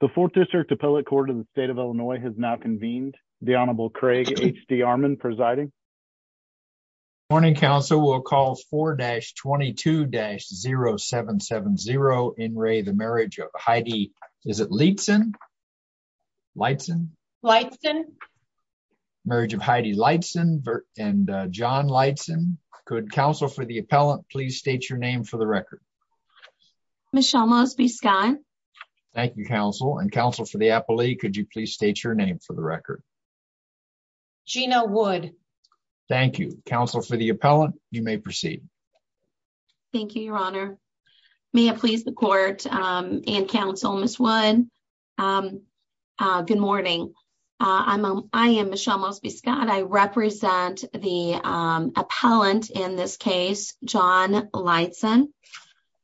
The 4th District Appellate Court of the State of Illinois has now convened. The Honorable Craig H.D. Armon presiding. Morning, counsel. We'll call 4-22-0770. In re the marriage of Heidi, is it Leitzen? Leitzen? Leitzen. Marriage of Heidi Leitzen and John Leitzen. Could counsel for the appellant please state your name for the record. Michelle Mosby Scott. Thank you, counsel. And counsel for the appellate, could you please state your name for the record. Gina Wood. Thank you. Counsel for the appellant, you may proceed. Thank you, Your Honor. May it please the court and counsel, Ms. Wood. Good morning. I am Michelle Mosby Scott. I represent the appellant in this case, John Leitzen.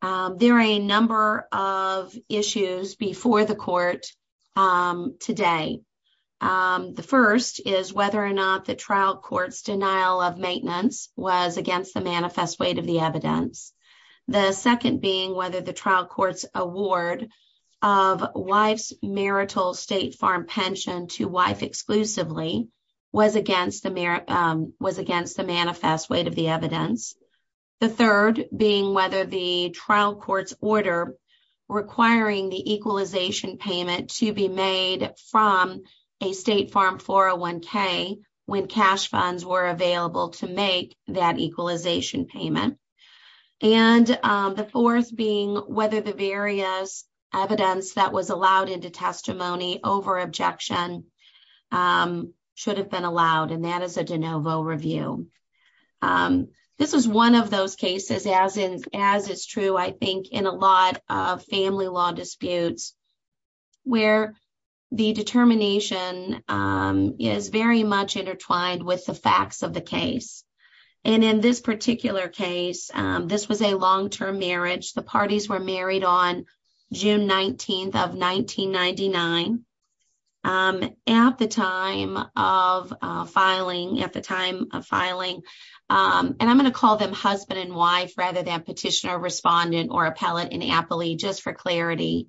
There are a number of issues before the court today. The first is whether or not the trial court's denial of maintenance was against the manifest weight of the evidence. The second being whether the trial court's award of wife's marital state farm pension to wife exclusively was against the was against the manifest weight of the evidence. The third being whether the trial court's order requiring the equalization payment to be made from a state farm 401k when cash funds were available to make that equalization payment. And the fourth being whether the various evidence that was allowed into testimony over objection should have been allowed. And that is a de novo review. This is one of those cases, as in, as it's true, I think, in a lot of family law disputes where the determination is very much intertwined with the facts of the case. And in this particular case, this was a long term marriage. The parties were married on June 19th of 1999. At the time of filing, at the time of filing, and I'm going to call them husband and wife rather than petitioner, respondent or appellate and appellee just for clarity.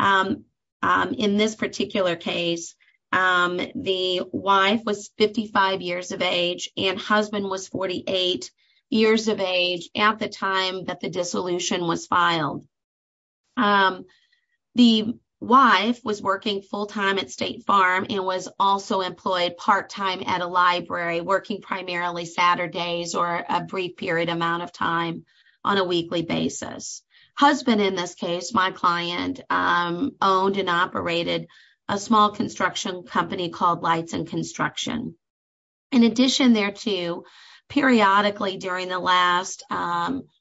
In this particular case, the wife was 55 years of age and husband was 48 years of age at the time that the dissolution was filed. The wife was working full time at State Farm and was also employed part time at a library, working primarily Saturdays or a brief period amount of time on a weekly basis. Husband in this case, my client owned and operated a small construction company called Lights and Construction. In addition, there too, periodically during the last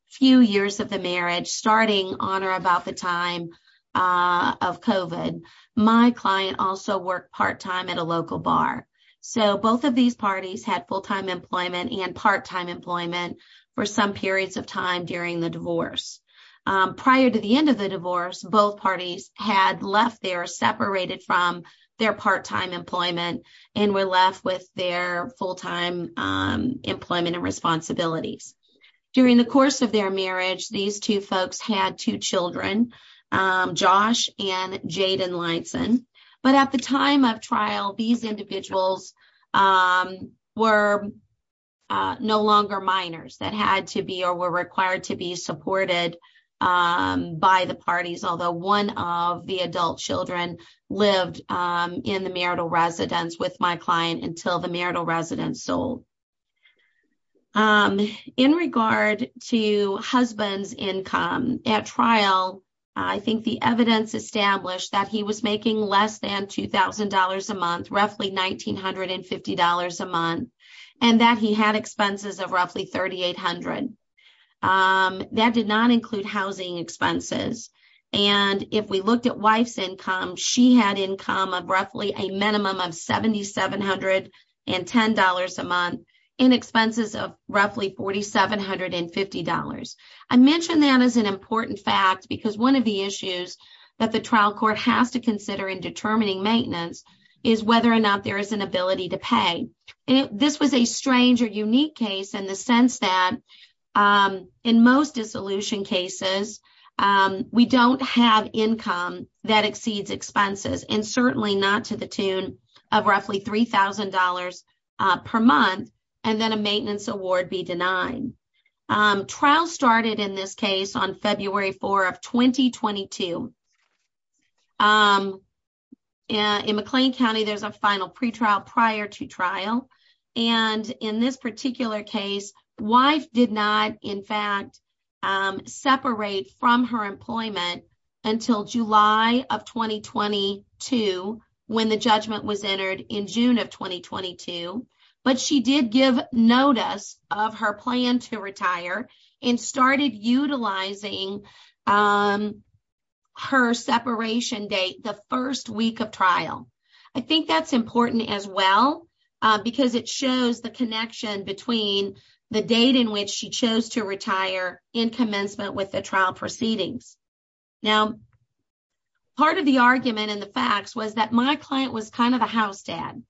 few years of the marriage, starting on or about the time of COVID, my client also worked part time at a local bar. So both of these parties had full time employment and part time employment for some periods of time during the divorce. Prior to the end of the divorce, both parties had left their separated from their part time employment and were left with their full time employment and responsibilities. During the course of their marriage, these two folks had two children, Josh and Jayden Lineson. But at the time of trial, these individuals were no longer minors that had to be or were required to be supported by the parties, although one of the adult children lived in the marital residence with my client until the marital residence sold. In regard to husband's income at trial, I think the evidence established that he was making less than $2,000 a month, roughly $1,950 a month, and that he had expenses of roughly $3,800. That did not include housing expenses. And if we looked at wife's income, she had income of roughly a minimum of $7,710 a month and expenses of roughly $4,750. I mentioned that as an important fact because one of the issues that the trial court has to consider in determining maintenance is whether or not there is an ability to pay. This was a strange or unique case in the sense that in most dissolution cases, we don't have income that exceeds expenses and certainly not to the tune of roughly $3,000 per month and then a maintenance award be denied. Trial started in this case on February 4 of 2022. In McLean County, there's a final pretrial prior to trial. And in this particular case, wife did not, in fact, separate from her employment until July of 2022 when the judgment was entered in June of 2022. But she did give notice of her plan to retire and started utilizing her separation date the first week of trial. I think that's important as well because it shows the connection between the date in which she chose to retire in commencement with the trial proceedings. Now, part of the argument and the facts was that my client was kind of a house dad.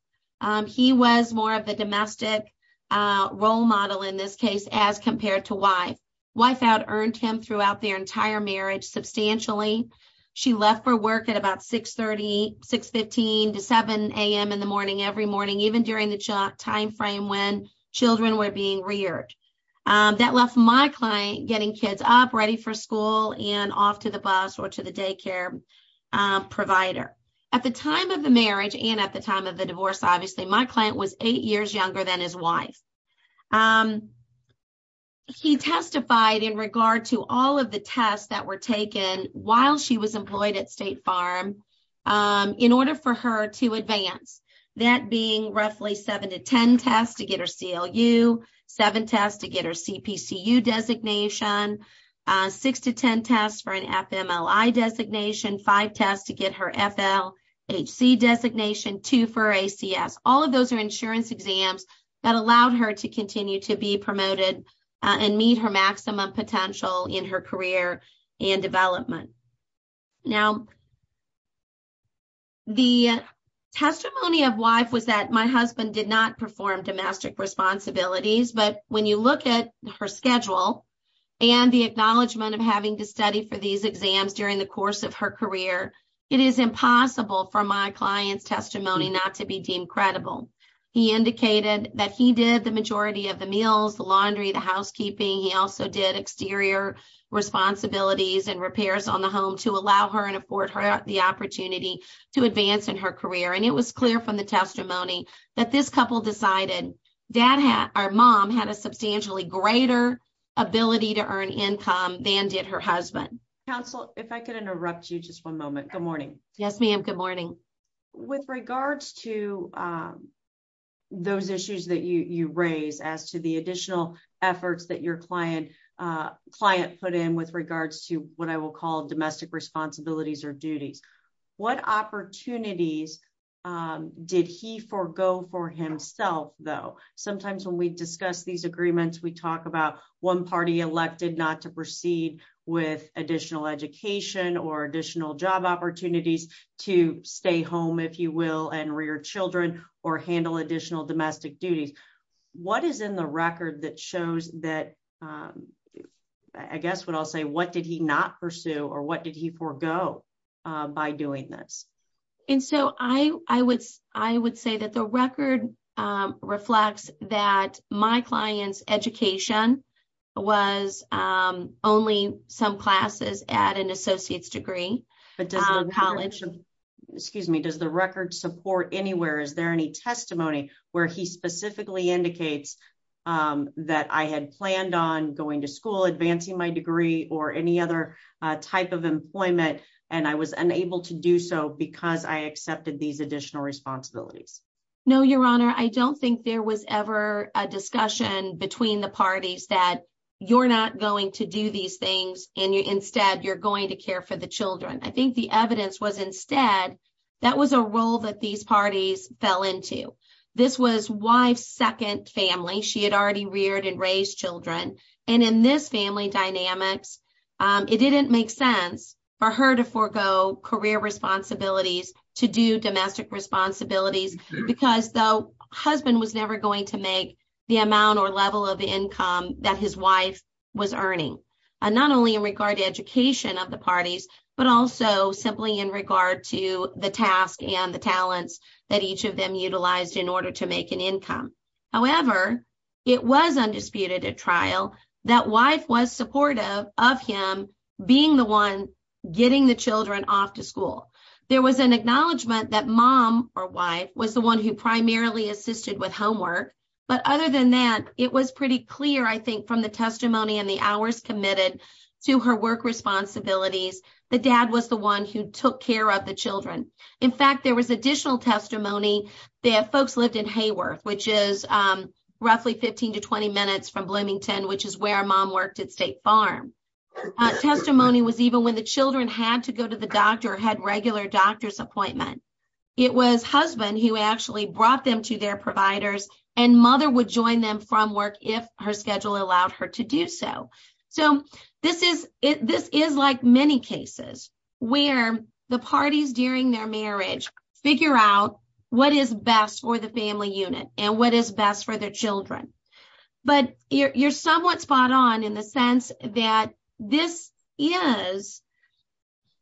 He was more of a domestic role model in this case as compared to wife. Wife out-earned him throughout their entire marriage substantially. She left for work at about 6.30, 6.15 to 7 a.m. in the morning every morning, even during the time frame when children were being reared. That left my client getting kids up, ready for school, and off to the bus or to the daycare provider. At the time of the marriage and at the time of the divorce, obviously, my client was eight years younger than his wife. He testified in regard to all of the tests that were taken while she was employed at State Farm in order for her to advance, that being roughly 7 to 10 tests to get her CLU, 7 tests to get her CPCU designation, 6 to 10 tests for an FMLI designation, 5 tests to get her FLHC designation, 2 for ACS. All of those are insurance exams that allowed her to continue to be promoted and meet her maximum potential in her career and development. Now, the testimony of wife was that my husband did not perform domestic responsibilities. But when you look at her schedule and the acknowledgement of having to study for these exams during the course of her career, it is impossible for my client's testimony not to be deemed credible. He indicated that he did the majority of the meals, the laundry, the housekeeping. He also did exterior responsibilities and repairs on the home to allow her and afford her the opportunity to advance in her career. And it was clear from the testimony that this couple decided our mom had a substantially greater ability to earn income than did her husband. Counsel, if I could interrupt you just one moment. Good morning. Yes, ma'am. Good morning. With regards to those issues that you raise as to the additional efforts that your client put in with regards to what I will call domestic responsibilities or duties, what opportunities did he forego for himself, though? Sometimes when we discuss these agreements, we talk about one party elected not to proceed with additional education or additional job opportunities to stay home, if you will, and rear children or handle additional domestic duties. What is in the record that shows that, I guess what I'll say, what did he not pursue or what did he forego by doing this? And so I would say that the record reflects that my client's education was only some classes at an associate's degree college. Excuse me. Does the record support anywhere? Is there any testimony where he specifically indicates that I had planned on going to school, advancing my degree or any other type of employment? And I was unable to do so because I accepted these additional responsibilities? No, Your Honor, I don't think there was ever a discussion between the parties that you're not going to do these things and instead you're going to care for the children. I think the evidence was instead that was a role that these parties fell into. This was wife's second family. She had already reared and raised children. And in this family dynamics, it didn't make sense for her to forego career responsibilities to do domestic responsibilities because the husband was never going to make the amount or level of income that his wife was earning. And so I would say that there was a discussion between the parties that each of them utilized to not only in regard to education of the parties, but also simply in regard to the task and the talents that each of them utilized in order to make an income. However, it was undisputed at trial that wife was supportive of him being the one getting the children off to school. There was an acknowledgement that mom or wife was the one who primarily assisted with homework. But other than that, it was pretty clear, I think, from the testimony and the hours committed to her work responsibilities. The dad was the one who took care of the children. In fact, there was additional testimony that folks lived in Hayworth, which is roughly 15 to 20 minutes from Bloomington, which is where mom worked at State Farm. Testimony was even when the children had to go to the doctor or had regular doctor's appointment. It was husband who actually brought them to their providers and mother would join them from work if her schedule allowed her to do so. So this is like many cases where the parties during their marriage figure out what is best for the family unit and what is best for their children. But you're somewhat spot on in the sense that this is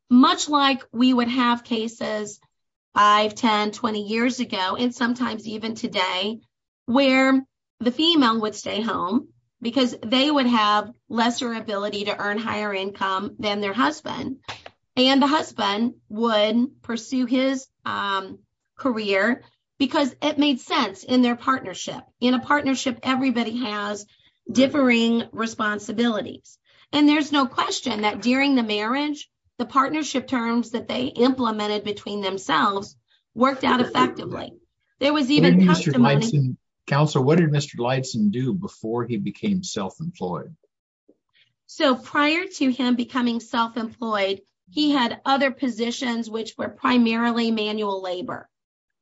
much like we would have cases 5, 10, 20 years ago, and sometimes even today, where the female would stay home because they would have lesser ability to earn higher income than their husband. And the husband would pursue his career because it made sense in their partnership. In a partnership, everybody has differing responsibilities. And there's no question that during the marriage, the partnership terms that they implemented between themselves worked out effectively. There was even testimony... What did Mr. Gleitson do before he became self-employed? So prior to him becoming self-employed, he had other positions which were primarily manual labor.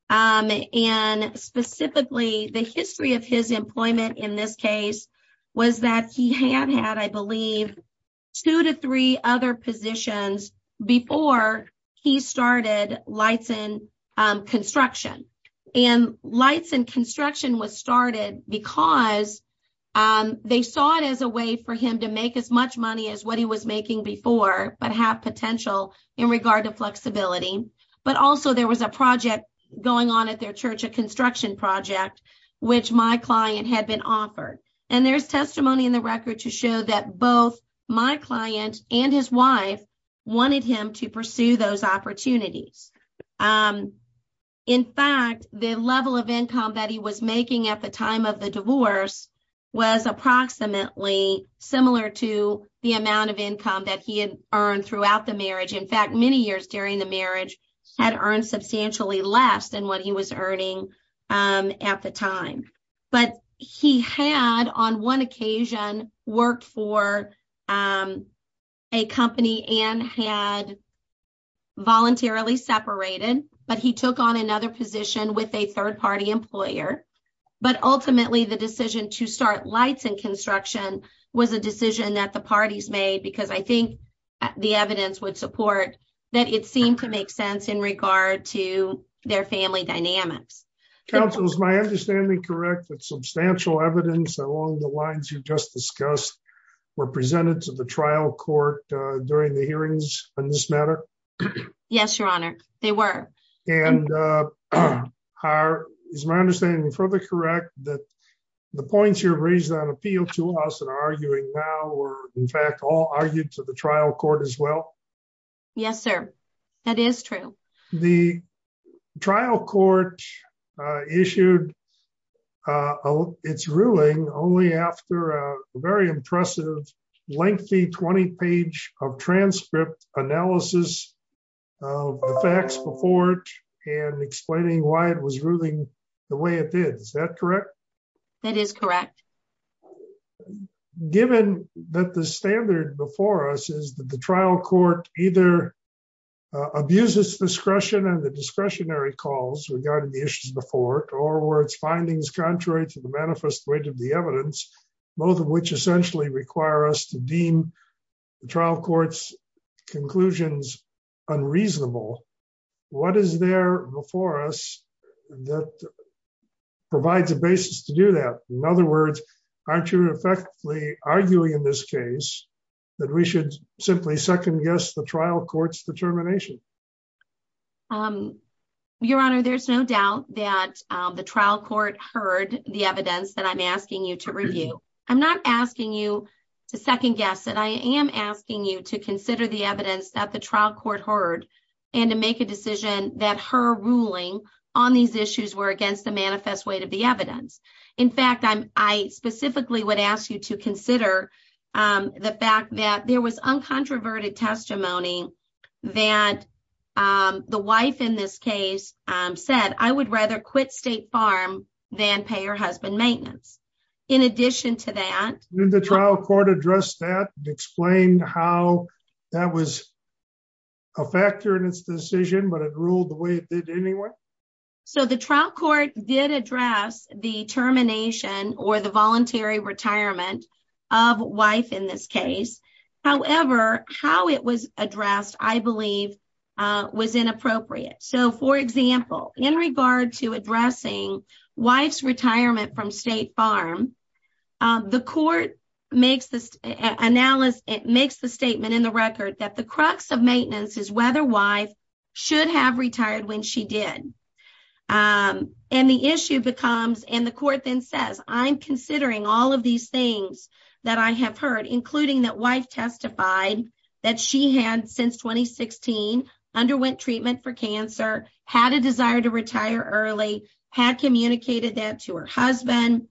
And specifically, the history of his employment in this case was that he had had, I believe, two to three other positions before he started Leitson Construction. And Leitson Construction was started because they saw it as a way for him to make as much money as what he was making before, but have potential in regard to flexibility. But also, there was a project going on at their church, a construction project, which my client had been offered. And there's testimony in the record to show that both my client and his wife wanted him to pursue those opportunities. In fact, the level of income that he was making at the time of the divorce was approximately similar to the amount of income that he had earned throughout the marriage. In fact, many years during the marriage, he had earned substantially less than what he was earning at the time. But he had, on one occasion, worked for a company and had voluntarily separated, but he took on another position with a third-party employer. But ultimately, the decision to start Leitson Construction was a decision that the parties made because I think the evidence would support that it seemed to make sense in regard to their family dynamics. Counsel, is my understanding correct that substantial evidence along the lines you just discussed were presented to the trial court during the hearings on this matter? Yes, Your Honor. They were. And is my understanding further correct that the points you have raised on appeal to us and are arguing now were, in fact, all argued to the trial court as well? Yes, sir. That is true. The trial court issued its ruling only after a very impressive, lengthy 20-page of transcript analysis of the facts before it and explaining why it was ruling the way it did. Is that correct? That is correct. Given that the standard before us is that the trial court either abuses discretion and the discretionary calls regarding the issues before it, or were its findings contrary to the manifest weight of the evidence, both of which essentially require us to deem the trial court's conclusions unreasonable, what is there before us that provides a basis to do that? In other words, aren't you effectively arguing in this case that we should simply second guess the trial court's determination? Your Honor, there's no doubt that the trial court heard the evidence that I'm asking you to review. I'm not asking you to second guess it. I am asking you to consider the evidence that the trial court heard and to make a decision that her ruling on these issues were against the manifest weight of the evidence. In fact, I specifically would ask you to consider the fact that there was uncontroverted testimony that the wife in this case said, I would rather quit State Farm than pay her husband maintenance. In addition to that… Didn't the trial court address that and explain how that was a factor in its decision, but it ruled the way it did anyway? The trial court did address the termination or the voluntary retirement of wife in this case. However, how it was addressed, I believe, was inappropriate. For example, in regard to addressing wife's retirement from State Farm, the court makes the statement in the record that the crux of maintenance is whether wife should have retired when she did. And the issue becomes, and the court then says, I'm considering all of these things that I have heard, including that wife testified that she had, since 2016, underwent treatment for cancer, had a desire to retire early, had communicated that to her husband.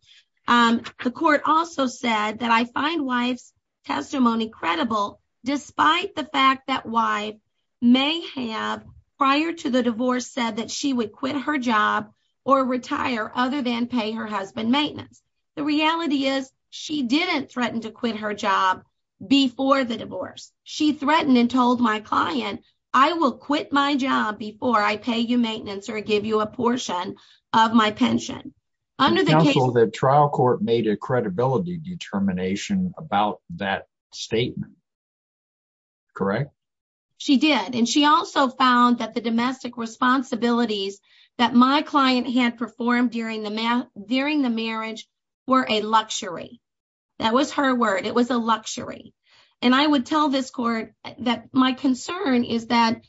The court also said that I find wife's testimony credible, despite the fact that wife may have, prior to the divorce, said that she would quit her job or retire other than pay her husband maintenance. The reality is she didn't threaten to quit her job before the divorce. She threatened and told my client, I will quit my job before I pay you maintenance or give you a portion of my pension. The trial court made a credibility determination about that statement. Correct? She did. And she also found that the domestic responsibilities that my client had performed during the marriage were a luxury. That was her word. It was a luxury. And I would tell this court that my concern is that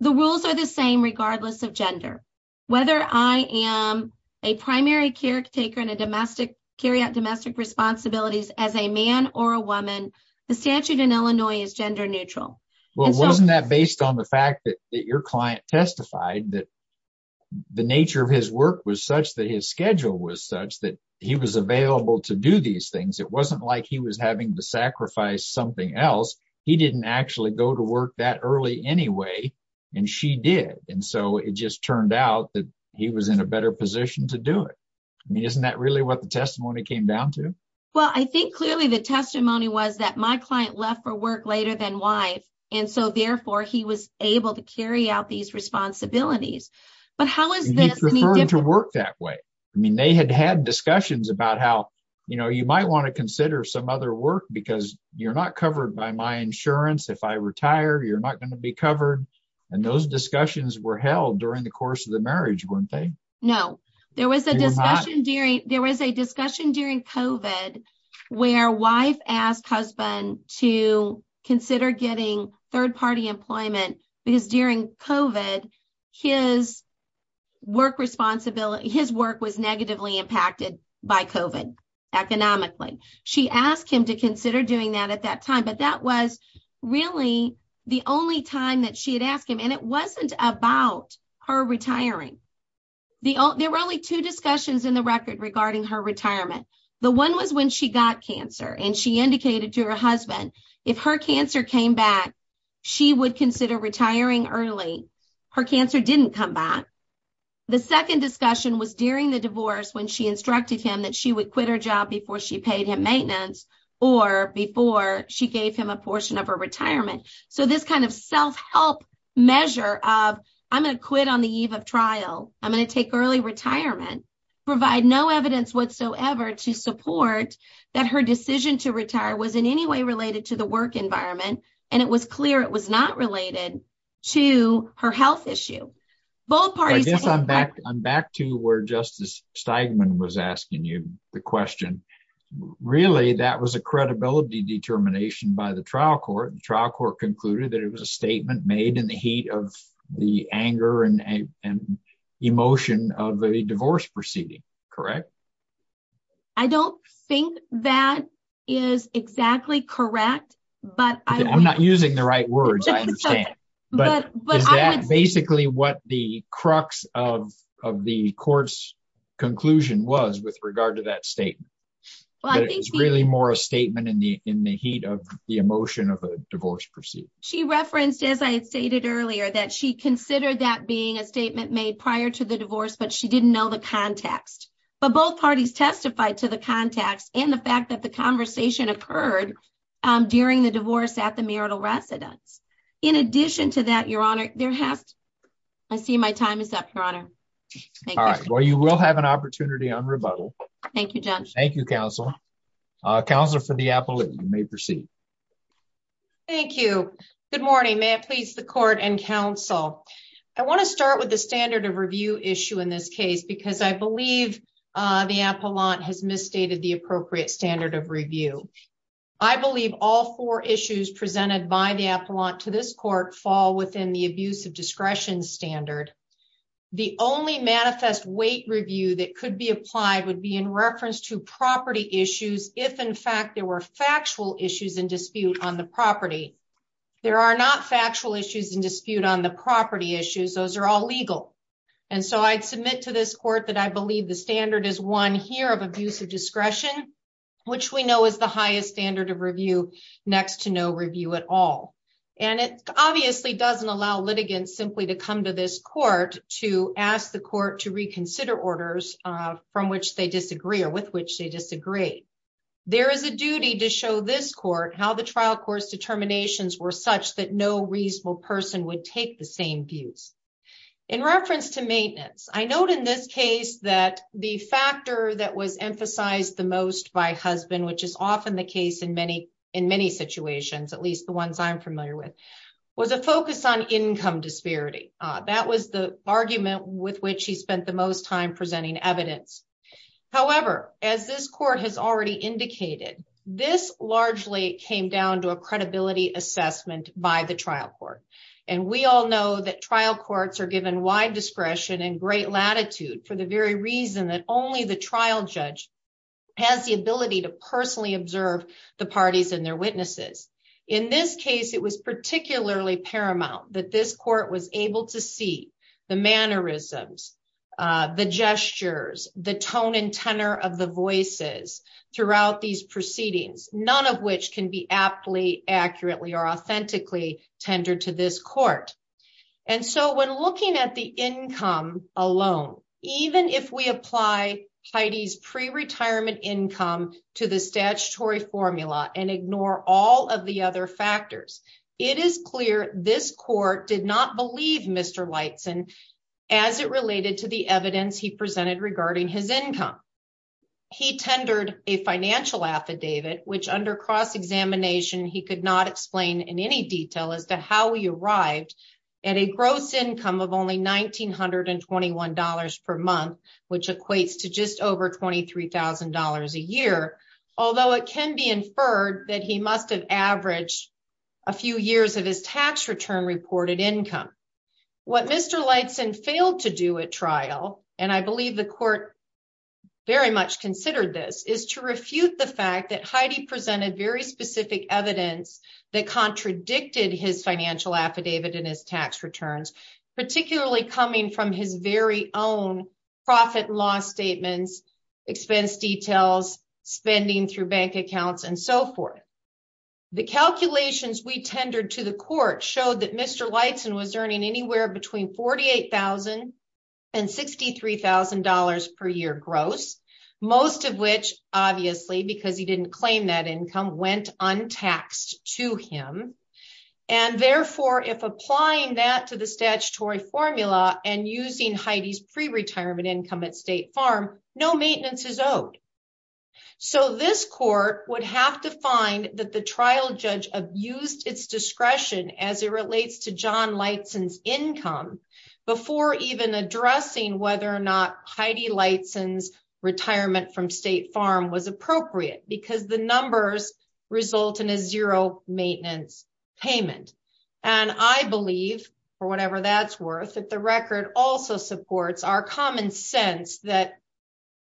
the rules are the same regardless of gender. Whether I am a primary caretaker and carry out domestic responsibilities as a man or a woman, the statute in Illinois is gender neutral. Well, wasn't that based on the fact that your client testified that the nature of his work was such that his schedule was such that he was available to do these things? It wasn't like he was having to sacrifice something else. He didn't actually go to work that early anyway, and she did. And so it just turned out that he was in a better position to do it. I mean, isn't that really what the testimony came down to? Well, I think clearly the testimony was that my client left for work later than wife. And so, therefore, he was able to carry out these responsibilities. But how is this referring to work that way? I mean, they had had discussions about how, you know, you might want to consider some other work because you're not covered by my insurance. If I retire, you're not going to be covered. And those discussions were held during the course of the marriage, weren't they? No, there was a discussion during COVID where wife asked husband to consider getting third-party employment because during COVID, his work was negatively impacted by COVID economically. She asked him to consider doing that at that time, but that was really the only time that she had asked him. And it wasn't about her retiring. There were only two discussions in the record regarding her retirement. The one was when she got cancer, and she indicated to her husband, if her cancer came back, she would consider retiring early. Her cancer didn't come back. The second discussion was during the divorce when she instructed him that she would quit her job before she paid him maintenance or before she gave him a portion of her retirement. So, this kind of self-help measure of, I'm going to quit on the eve of trial. I'm going to take early retirement, provide no evidence whatsoever to support that her decision to retire was in any way related to the work environment, and it was clear it was not related to her health issue. Both parties— I'm back to where Justice Steigman was asking you the question. Really, that was a credibility determination by the trial court. The trial court concluded that it was a statement made in the heat of the anger and emotion of the divorce proceeding, correct? I don't think that is exactly correct, but— I'm not using the right words, I understand. But is that basically what the crux of the court's conclusion was with regard to that statement? That it was really more a statement in the heat of the emotion of a divorce proceeding? She referenced, as I had stated earlier, that she considered that being a statement made prior to the divorce, but she didn't know the context. But both parties testified to the context and the fact that the conversation occurred during the divorce at the marital residence. In addition to that, Your Honor, there has to—I see my time is up, Your Honor. All right. Well, you will have an opportunity on rebuttal. Thank you, Judge. Thank you, Counsel. Counselor for the appellate, you may proceed. Thank you. Good morning. May it please the Court and Counsel. I want to start with the standard of review issue in this case because I believe the appellant has misstated the appropriate standard of review. I believe all four issues presented by the appellant to this court fall within the abuse of discretion standard. The only manifest weight review that could be applied would be in reference to property issues if, in fact, there were factual issues in dispute on the property. There are not factual issues in dispute on the property issues. Those are all legal. And so I'd submit to this court that I believe the standard is one here of abuse of discretion, which we know is the highest standard of review next to no review at all. And it obviously doesn't allow litigants simply to come to this court to ask the court to reconsider orders from which they disagree or with which they disagree. There is a duty to show this court how the trial court's determinations were such that no reasonable person would take the same views. In reference to maintenance, I note in this case that the factor that was emphasized the most by husband, which is often the case in many situations, at least the ones I'm familiar with, was a focus on income disparity. That was the argument with which he spent the most time presenting evidence. However, as this court has already indicated, this largely came down to a credibility assessment by the trial court. And we all know that trial courts are given wide discretion and great latitude for the very reason that only the trial judge has the ability to personally observe the parties and their witnesses. In this case, it was particularly paramount that this court was able to see the mannerisms, the gestures, the tone and tenor of the voices throughout these proceedings, none of which can be aptly, accurately, or authentically tendered to this court. And so when looking at the income alone, even if we apply Heidi's pre-retirement income to the statutory formula and ignore all of the other factors, it is clear this court did not believe Mr. Leitzen as it related to the evidence he presented regarding his income. He tendered a financial affidavit, which under cross-examination he could not explain in any detail as to how he arrived at a gross income of only $1,921 per month, which equates to just over $23,000 a year, although it can be inferred that he must have averaged a few years of his tax return reported income. What Mr. Leitzen failed to do at trial, and I believe the court very much considered this, is to refute the fact that Heidi presented very specific evidence that contradicted his financial affidavit and his tax returns, particularly coming from his very own profit and loss statements, expense details, spending through bank accounts, and so forth. The calculations we tendered to the court showed that Mr. Leitzen was earning anywhere between $48,000 and $63,000 per year gross, most of which, obviously, because he didn't claim that income, went untaxed to him. And therefore, if applying that to the statutory formula and using Heidi's pre-retirement income at State Farm, no maintenance is owed. So this court would have to find that the trial judge abused its discretion as it relates to John Leitzen's income before even addressing whether or not Heidi Leitzen's retirement from State Farm was appropriate, because the numbers result in a zero maintenance payment. And I believe, for whatever that's worth, that the record also supports our common sense that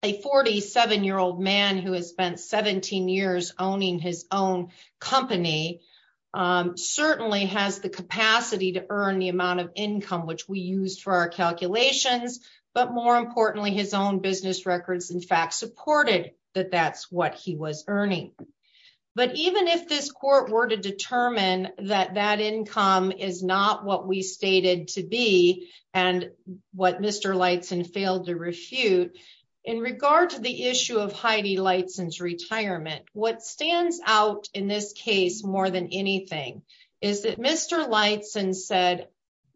a 47-year-old man who has spent 17 years owning his own company certainly has the capacity to earn the amount of income which we used for our calculations, but more importantly, his own business records, in fact, supported that that's what he was earning. But even if this court were to determine that that income is not what we stated to be and what Mr. Leitzen failed to refute, in regard to the issue of Heidi Leitzen's retirement, what stands out in this case more than anything is that Mr. Leitzen said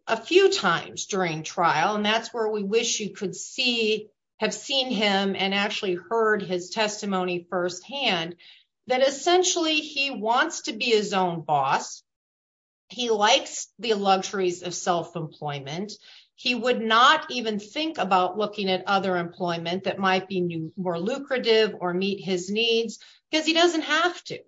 a few times during trial, and that's where we wish you could have seen him and actually heard his testimony firsthand, that essentially he wants to be his own boss. He likes the luxuries of self-employment. He would not even think about looking at other employment that might be more lucrative or meet his needs, because he doesn't have to.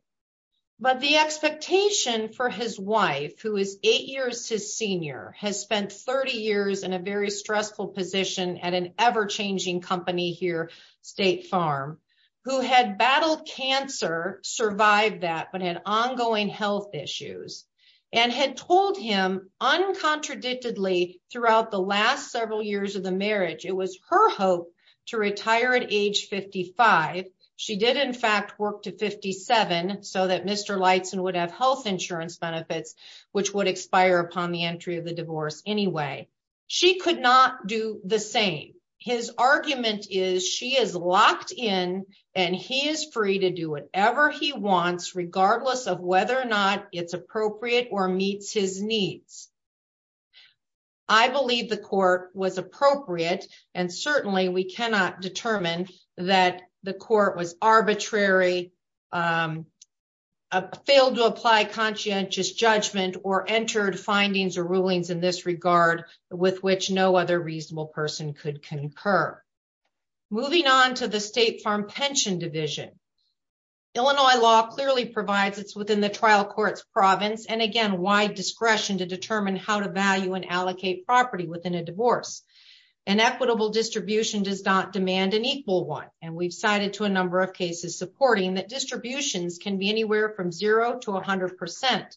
But the expectation for his wife, who is eight years his senior, has spent 30 years in a very stressful position at an ever-changing company here, State Farm, who had battled cancer, survived that, but had ongoing health issues, and had told him uncontradictedly throughout the last several years of the marriage, it was her hope to retire at age 55. She did, in fact, work to 57 so that Mr. Leitzen would have health insurance benefits, which would expire upon the entry of the divorce anyway. She could not do the same. His argument is she is locked in, and he is free to do whatever he wants, regardless of whether or not it's appropriate or meets his needs. I believe the court was appropriate, and certainly we cannot determine that the court was arbitrary, failed to apply conscientious judgment, or entered findings or rulings in this regard with which no other reasonable person could concur. Moving on to the State Farm Pension Division. Illinois law clearly provides it's within the trial court's province, and again, wide discretion to determine how to value and allocate property within a divorce. An equitable distribution does not demand an equal one, and we've cited to a number of cases supporting that distributions can be anywhere from zero to 100%.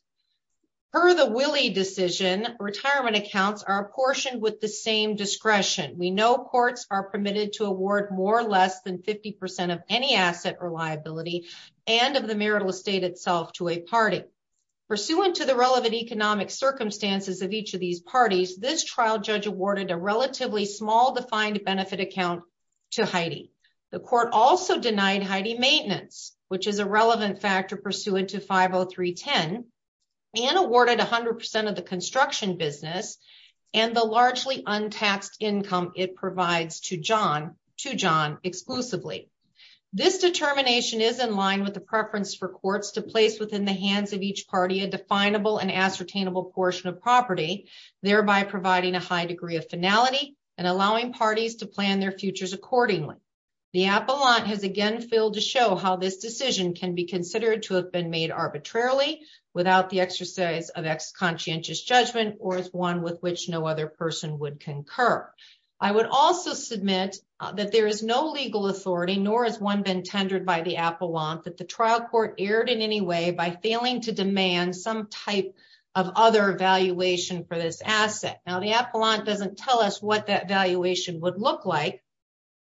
Per the Willey decision, retirement accounts are apportioned with the same discretion. We know courts are permitted to award more or less than 50% of any asset or liability and of the marital estate itself to a party. Pursuant to the relevant economic circumstances of each of these parties, this trial judge awarded a relatively small defined benefit account to Heidi. The court also denied Heidi maintenance, which is a relevant factor pursuant to 50310, and awarded 100% of the construction business and the largely untaxed income it provides to John exclusively. This determination is in line with the preference for courts to place within the hands of each party, a definable and ascertainable portion of property, thereby providing a high degree of finality and allowing parties to plan their futures accordingly. The appellant has again failed to show how this decision can be considered to have been made arbitrarily without the exercise of ex conscientious judgment, or as one with which no other person would concur. I would also submit that there is no legal authority, nor has one been tendered by the appellant that the trial court aired in any way by failing to demand some type of other evaluation for this asset. Now the appellant doesn't tell us what that valuation would look like,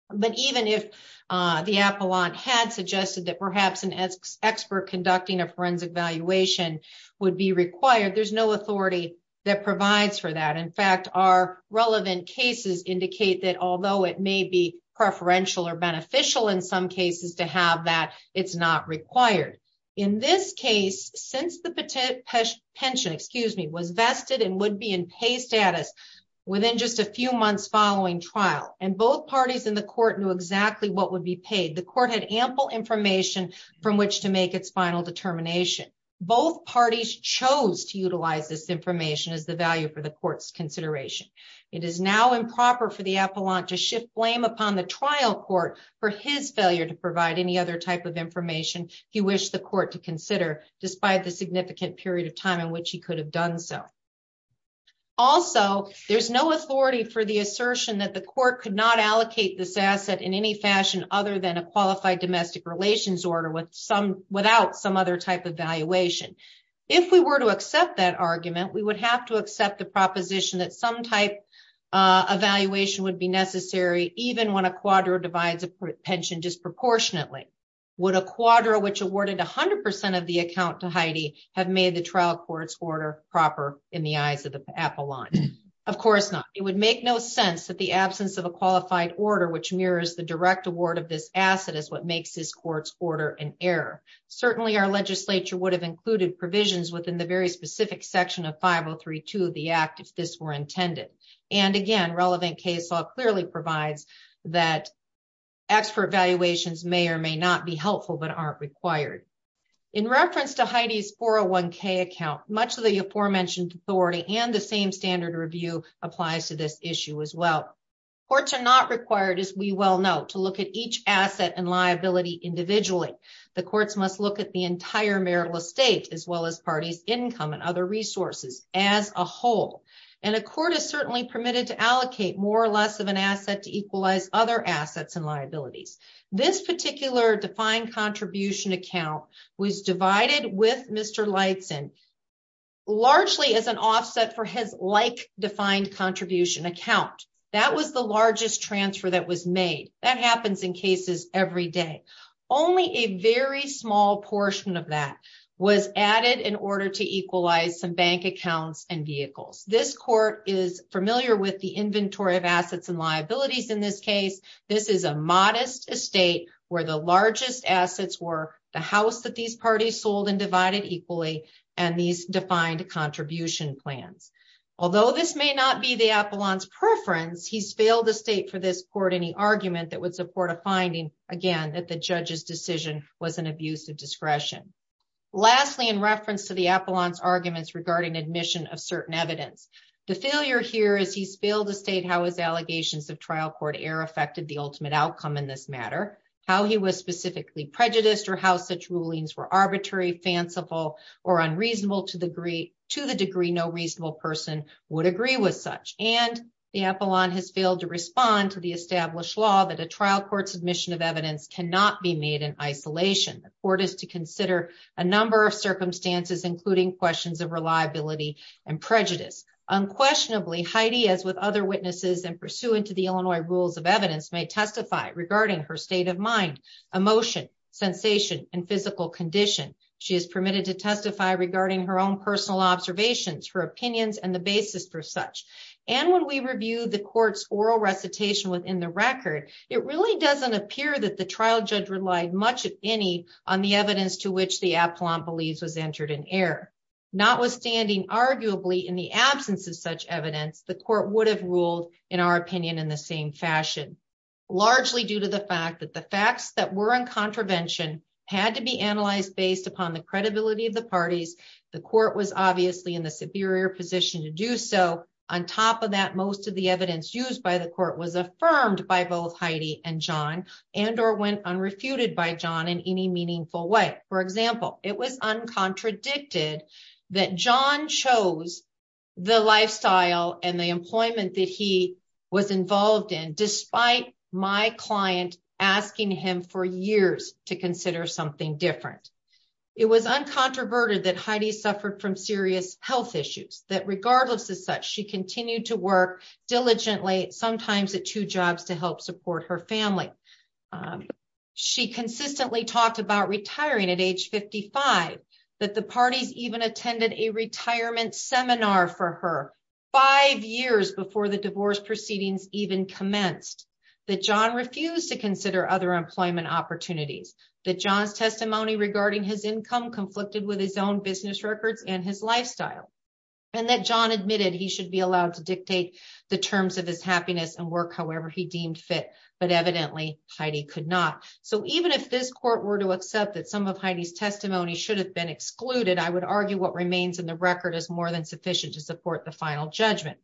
but even if the appellant had suggested that perhaps an expert conducting a forensic valuation would be required, there's no authority that provides for that. In fact, our relevant cases indicate that although it may be preferential or beneficial in some cases to have that, it's not required. In this case, since the pension, excuse me, was vested and would be in pay status within just a few months following trial, and both parties in the court knew exactly what would be paid, the court had ample information from which to make its final determination. Both parties chose to utilize this information as the value for the court's consideration. It is now improper for the appellant to shift blame upon the trial court for his failure to provide any other type of information he wished the court to consider, despite the significant period of time in which he could have done so. Also, there's no authority for the assertion that the court could not allocate this asset in any fashion other than a qualified domestic relations order without some other type of valuation. If we were to accept that argument, we would have to accept the proposition that some type of valuation would be necessary, even when a quadro divides a pension disproportionately. Would a quadro, which awarded 100% of the account to Heidi, have made the trial court's order proper in the eyes of the appellant? Of course not. It would make no sense that the absence of a qualified order, which mirrors the direct award of this asset, is what makes this court's order an error. Certainly, our legislature would have included provisions within the very specific section of 5032 of the act if this were intended. And again, relevant case law clearly provides that expert valuations may or may not be helpful but aren't required. In reference to Heidi's 401k account, much of the aforementioned authority and the same standard review applies to this issue as well. Courts are not required, as we well know, to look at each asset and liability individually. The courts must look at the entire marital estate as well as parties' income and other resources as a whole. And a court is certainly permitted to allocate more or less of an asset to equalize other assets and liabilities. This particular defined contribution account was divided with Mr. Leidsen largely as an offset for his like-defined contribution account. That was the largest transfer that was made. That happens in cases every day. Only a very small portion of that was added in order to equalize some bank accounts and vehicles. This court is familiar with the inventory of assets and liabilities in this case. This is a modest estate where the largest assets were the house that these parties sold and divided equally and these defined contribution plans. Although this may not be the appellant's preference, he's failed to state for this court any argument that would support a finding, again, that the judge's decision was an abuse of discretion. Lastly, in reference to the appellant's arguments regarding admission of certain evidence, the failure here is he's failed to state how his allegations of trial court error affected the ultimate outcome in this matter, how he was specifically prejudiced or how such rulings were arbitrary, fanciful, or unreasonable to the degree no reasonable person would agree with such. And the appellant has failed to respond to the established law that a trial court's admission of evidence cannot be made in isolation. The court is to consider a number of circumstances, including questions of reliability and prejudice. Unquestionably, Heidi, as with other witnesses and pursuant to the Illinois rules of evidence may testify regarding her state of mind, emotion, sensation, and physical condition. She is permitted to testify regarding her own personal observations, her opinions, and the basis for such. And when we review the court's oral recitation within the record, it really doesn't appear that the trial judge relied much, if any, on the evidence to which the appellant believes was entered in error. Notwithstanding, arguably, in the absence of such evidence, the court would have ruled, in our opinion, in the same fashion. Largely due to the fact that the facts that were in contravention had to be analyzed based upon the credibility of the parties. The court was obviously in the superior position to do so. On top of that, most of the evidence used by the court was affirmed by both Heidi and John and or went unrefuted by John in any meaningful way. For example, it was uncontradicted that John chose the lifestyle and the employment that he was involved in, despite my client asking him for years to consider something different. It was uncontroverted that Heidi suffered from serious health issues, that regardless of such, she continued to work diligently, sometimes at two jobs to help support her family. She consistently talked about retiring at age 55, that the parties even attended a retirement seminar for her five years before the divorce proceedings even commenced, that John refused to consider other employment opportunities, that John's testimony regarding his income conflicted with his own business records and his lifestyle, and that John admitted he should be allowed to dictate the terms of his happiness and work however he deemed fit. But evidently, Heidi could not. So even if this court were to accept that some of Heidi's testimony should have been excluded, I would argue what remains in the record is more than sufficient to support the final judgment.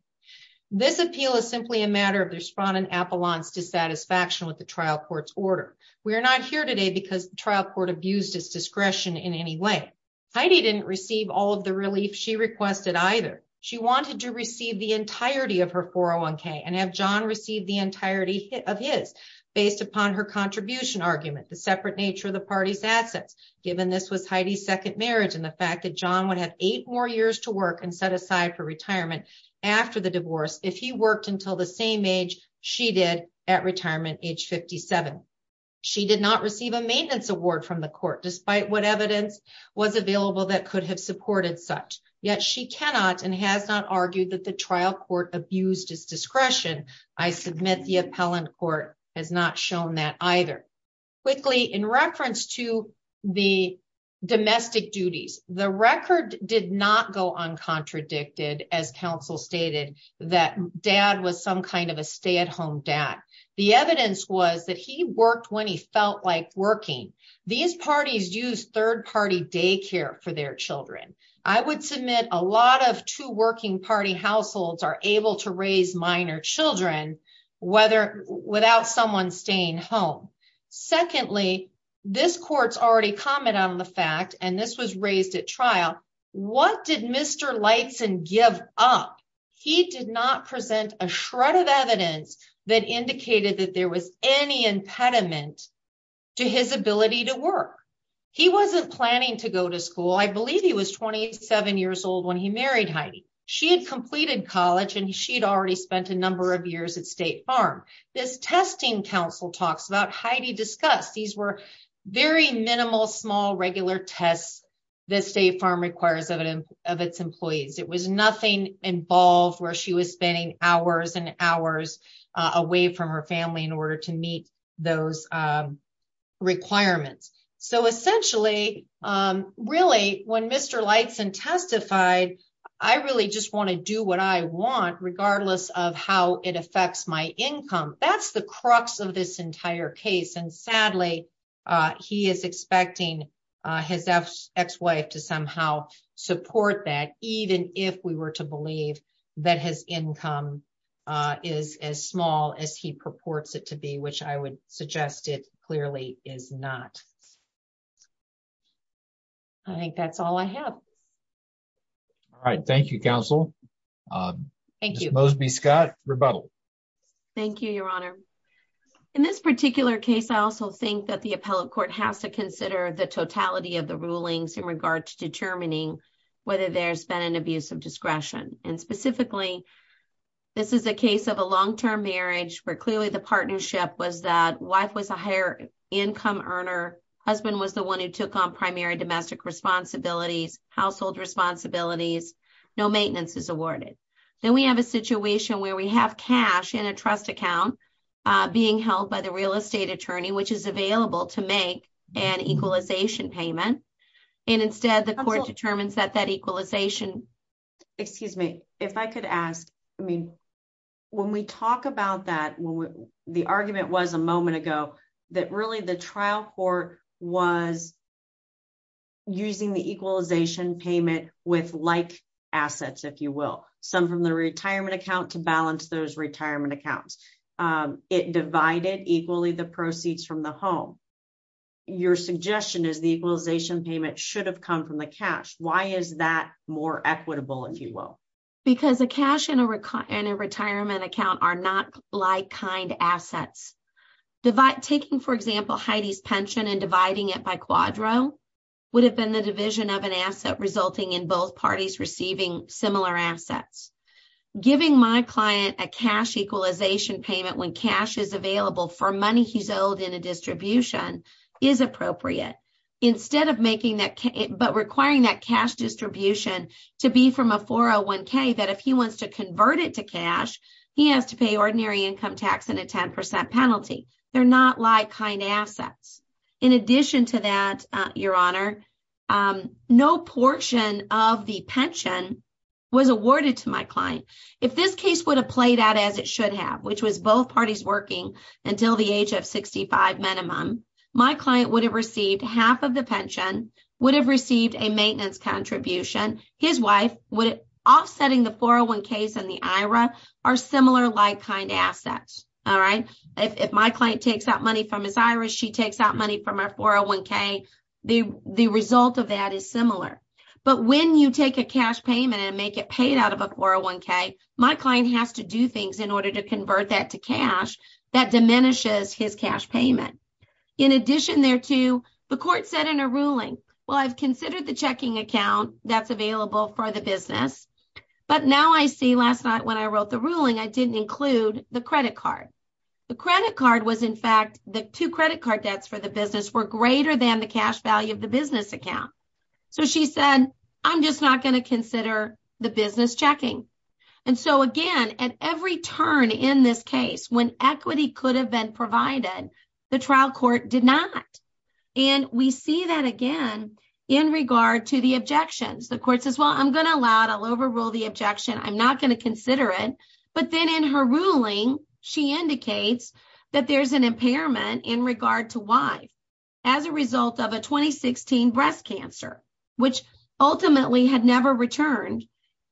This appeal is simply a matter of the respondent appellant's dissatisfaction with the trial court's order. We are not here today because the trial court abused its discretion in any way. Heidi didn't receive all of the relief she requested either. She wanted to receive the entirety of her 401k and have John receive the entirety of his, based upon her contribution argument, the separate nature of the party's assets, given this was Heidi's second marriage and the fact that John would have eight more years to work and set aside for retirement after the divorce if he worked until the same age she did at retirement, age 57. She did not receive a maintenance award from the court, despite what evidence was available that could have supported such. Yet she cannot and has not argued that the trial court abused its discretion. I submit the appellant court has not shown that either. Quickly, in reference to the domestic duties, the record did not go uncontradicted, as counsel stated, that dad was some kind of a stay-at-home dad. The evidence was that he worked when he felt like working. These parties use third-party daycare for their children. I would submit a lot of two-working-party households are able to raise minor children without someone staying home. Secondly, this court's already commented on the fact, and this was raised at trial, what did Mr. Leitzen give up? He did not present a shred of evidence that indicated that there was any impediment to his ability to work. He wasn't planning to go to school. I believe he was 27 years old when he married Heidi. She had completed college, and she had already spent a number of years at State Farm. This testing council talks about, Heidi discussed, these were very minimal, small, regular tests that State Farm requires of its employees. It was nothing involved where she was spending hours and hours away from her family in order to meet those requirements. Essentially, really, when Mr. Leitzen testified, I really just want to do what I want regardless of how it affects my income, that's the crux of this entire case. Sadly, he is expecting his ex-wife to somehow support that, even if we were to believe that his income is as small as he purports it to be, which I would suggest it clearly is not. I think that's all I have. All right. Thank you, Counsel. Thank you. Ms. Mosby-Scott, rebuttal. Thank you, Your Honor. In this particular case, I also think that the appellate court has to consider the totality of the rulings in regard to determining whether there's been an abuse of discretion. Specifically, this is a case of a long-term marriage where clearly the partnership was that wife was a higher income earner, husband was the one who took on primary domestic responsibilities, household responsibilities, no maintenance is awarded. Then we have a situation where we have cash in a trust account being held by the real estate attorney, which is available to make an equalization payment. And instead, the court determines that that equalization… Excuse me. If I could ask, I mean, when we talk about that, the argument was a moment ago that really the trial court was using the equalization payment with like assets, if you will. Some from the retirement account to balance those retirement accounts. It divided equally the proceeds from the home. Your suggestion is the equalization payment should have come from the cash. Why is that more equitable, if you will? Because a cash and a retirement account are not like kind assets. Taking, for example, Heidi's pension and dividing it by quadro would have been the division of an asset resulting in both parties receiving similar assets. Giving my client a cash equalization payment when cash is available for money he's owed in a distribution is appropriate. But requiring that cash distribution to be from a 401k, that if he wants to convert it to cash, he has to pay ordinary income tax and a 10% penalty. They're not like kind assets. In addition to that, Your Honor, no portion of the pension was awarded to my client. If this case would have played out as it should have, which was both parties working until the age of 65 minimum, my client would have received half of the pension, would have received a maintenance contribution. His wife, offsetting the 401ks and the IRA, are similar like kind assets. If my client takes out money from his IRA, she takes out money from her 401k. The result of that is similar. But when you take a cash payment and make it paid out of a 401k, my client has to do things in order to convert that to cash. That diminishes his cash payment. In addition, there too, the court said in a ruling, well, I've considered the checking account that's available for the business. But now I see last night when I wrote the ruling, I didn't include the credit card. The credit card was, in fact, the two credit card debts for the business were greater than the cash value of the business account. So she said, I'm just not going to consider the business checking. And so again, at every turn in this case, when equity could have been provided, the trial court did not. And we see that again in regard to the objections. The court says, well, I'm going to allow it. I'll overrule the objection. I'm not going to consider it. But then in her ruling, she indicates that there's an impairment in regard to why, as a result of a 2016 breast cancer, which ultimately had never returned.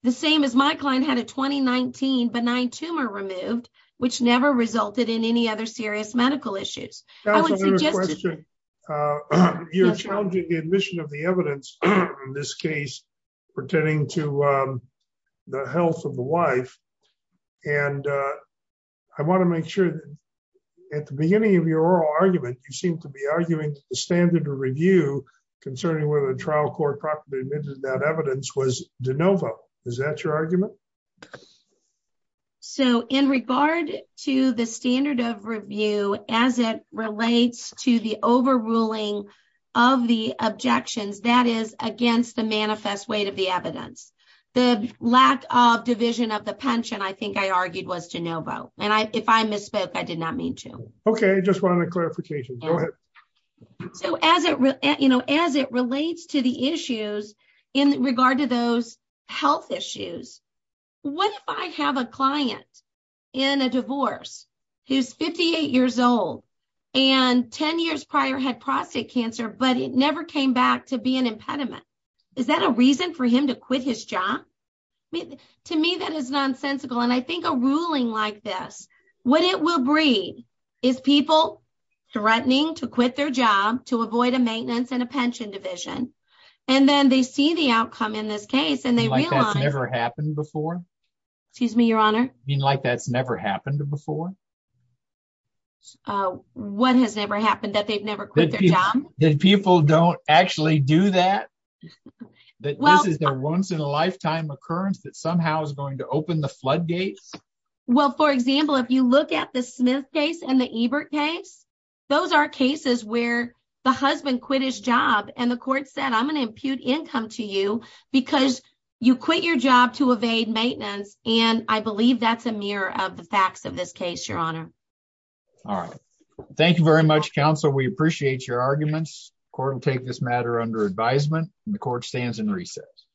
The same as my client had a 2019 benign tumor removed, which never resulted in any other serious medical issues. You're challenging the admission of the evidence in this case pertaining to the health of the wife. And I want to make sure that at the beginning of your argument, you seem to be arguing the standard of review concerning whether the trial court properly admitted that evidence was de novo. Is that your argument? So in regard to the standard of review, as it relates to the overruling of the objections, that is against the manifest weight of the evidence. The lack of division of the pension, I think I argued, was de novo. And if I misspoke, I did not mean to. OK, just wanted a clarification. Go ahead. So as it relates to the issues in regard to those health issues, what if I have a client in a divorce who's 58 years old and 10 years prior had prostate cancer, but it never came back to be an impediment? Is that a reason for him to quit his job? To me, that is nonsensical. And I think a ruling like this, what it will breed is people threatening to quit their job to avoid a maintenance and a pension division. And then they see the outcome in this case and they realize. Like that's never happened before? Excuse me, Your Honor? You mean like that's never happened before? What has never happened, that they've never quit their job? That people don't actually do that? That this is their once in a lifetime occurrence that somehow is going to open the floodgates? Well, for example, if you look at the Smith case and the Ebert case, those are cases where the husband quit his job and the court said, I'm going to impute income to you because you quit your job to evade maintenance. And I believe that's a mirror of the facts of this case, Your Honor. All right. Thank you very much, counsel. We appreciate your arguments. Court will take this matter under advisement and the court stands in recess.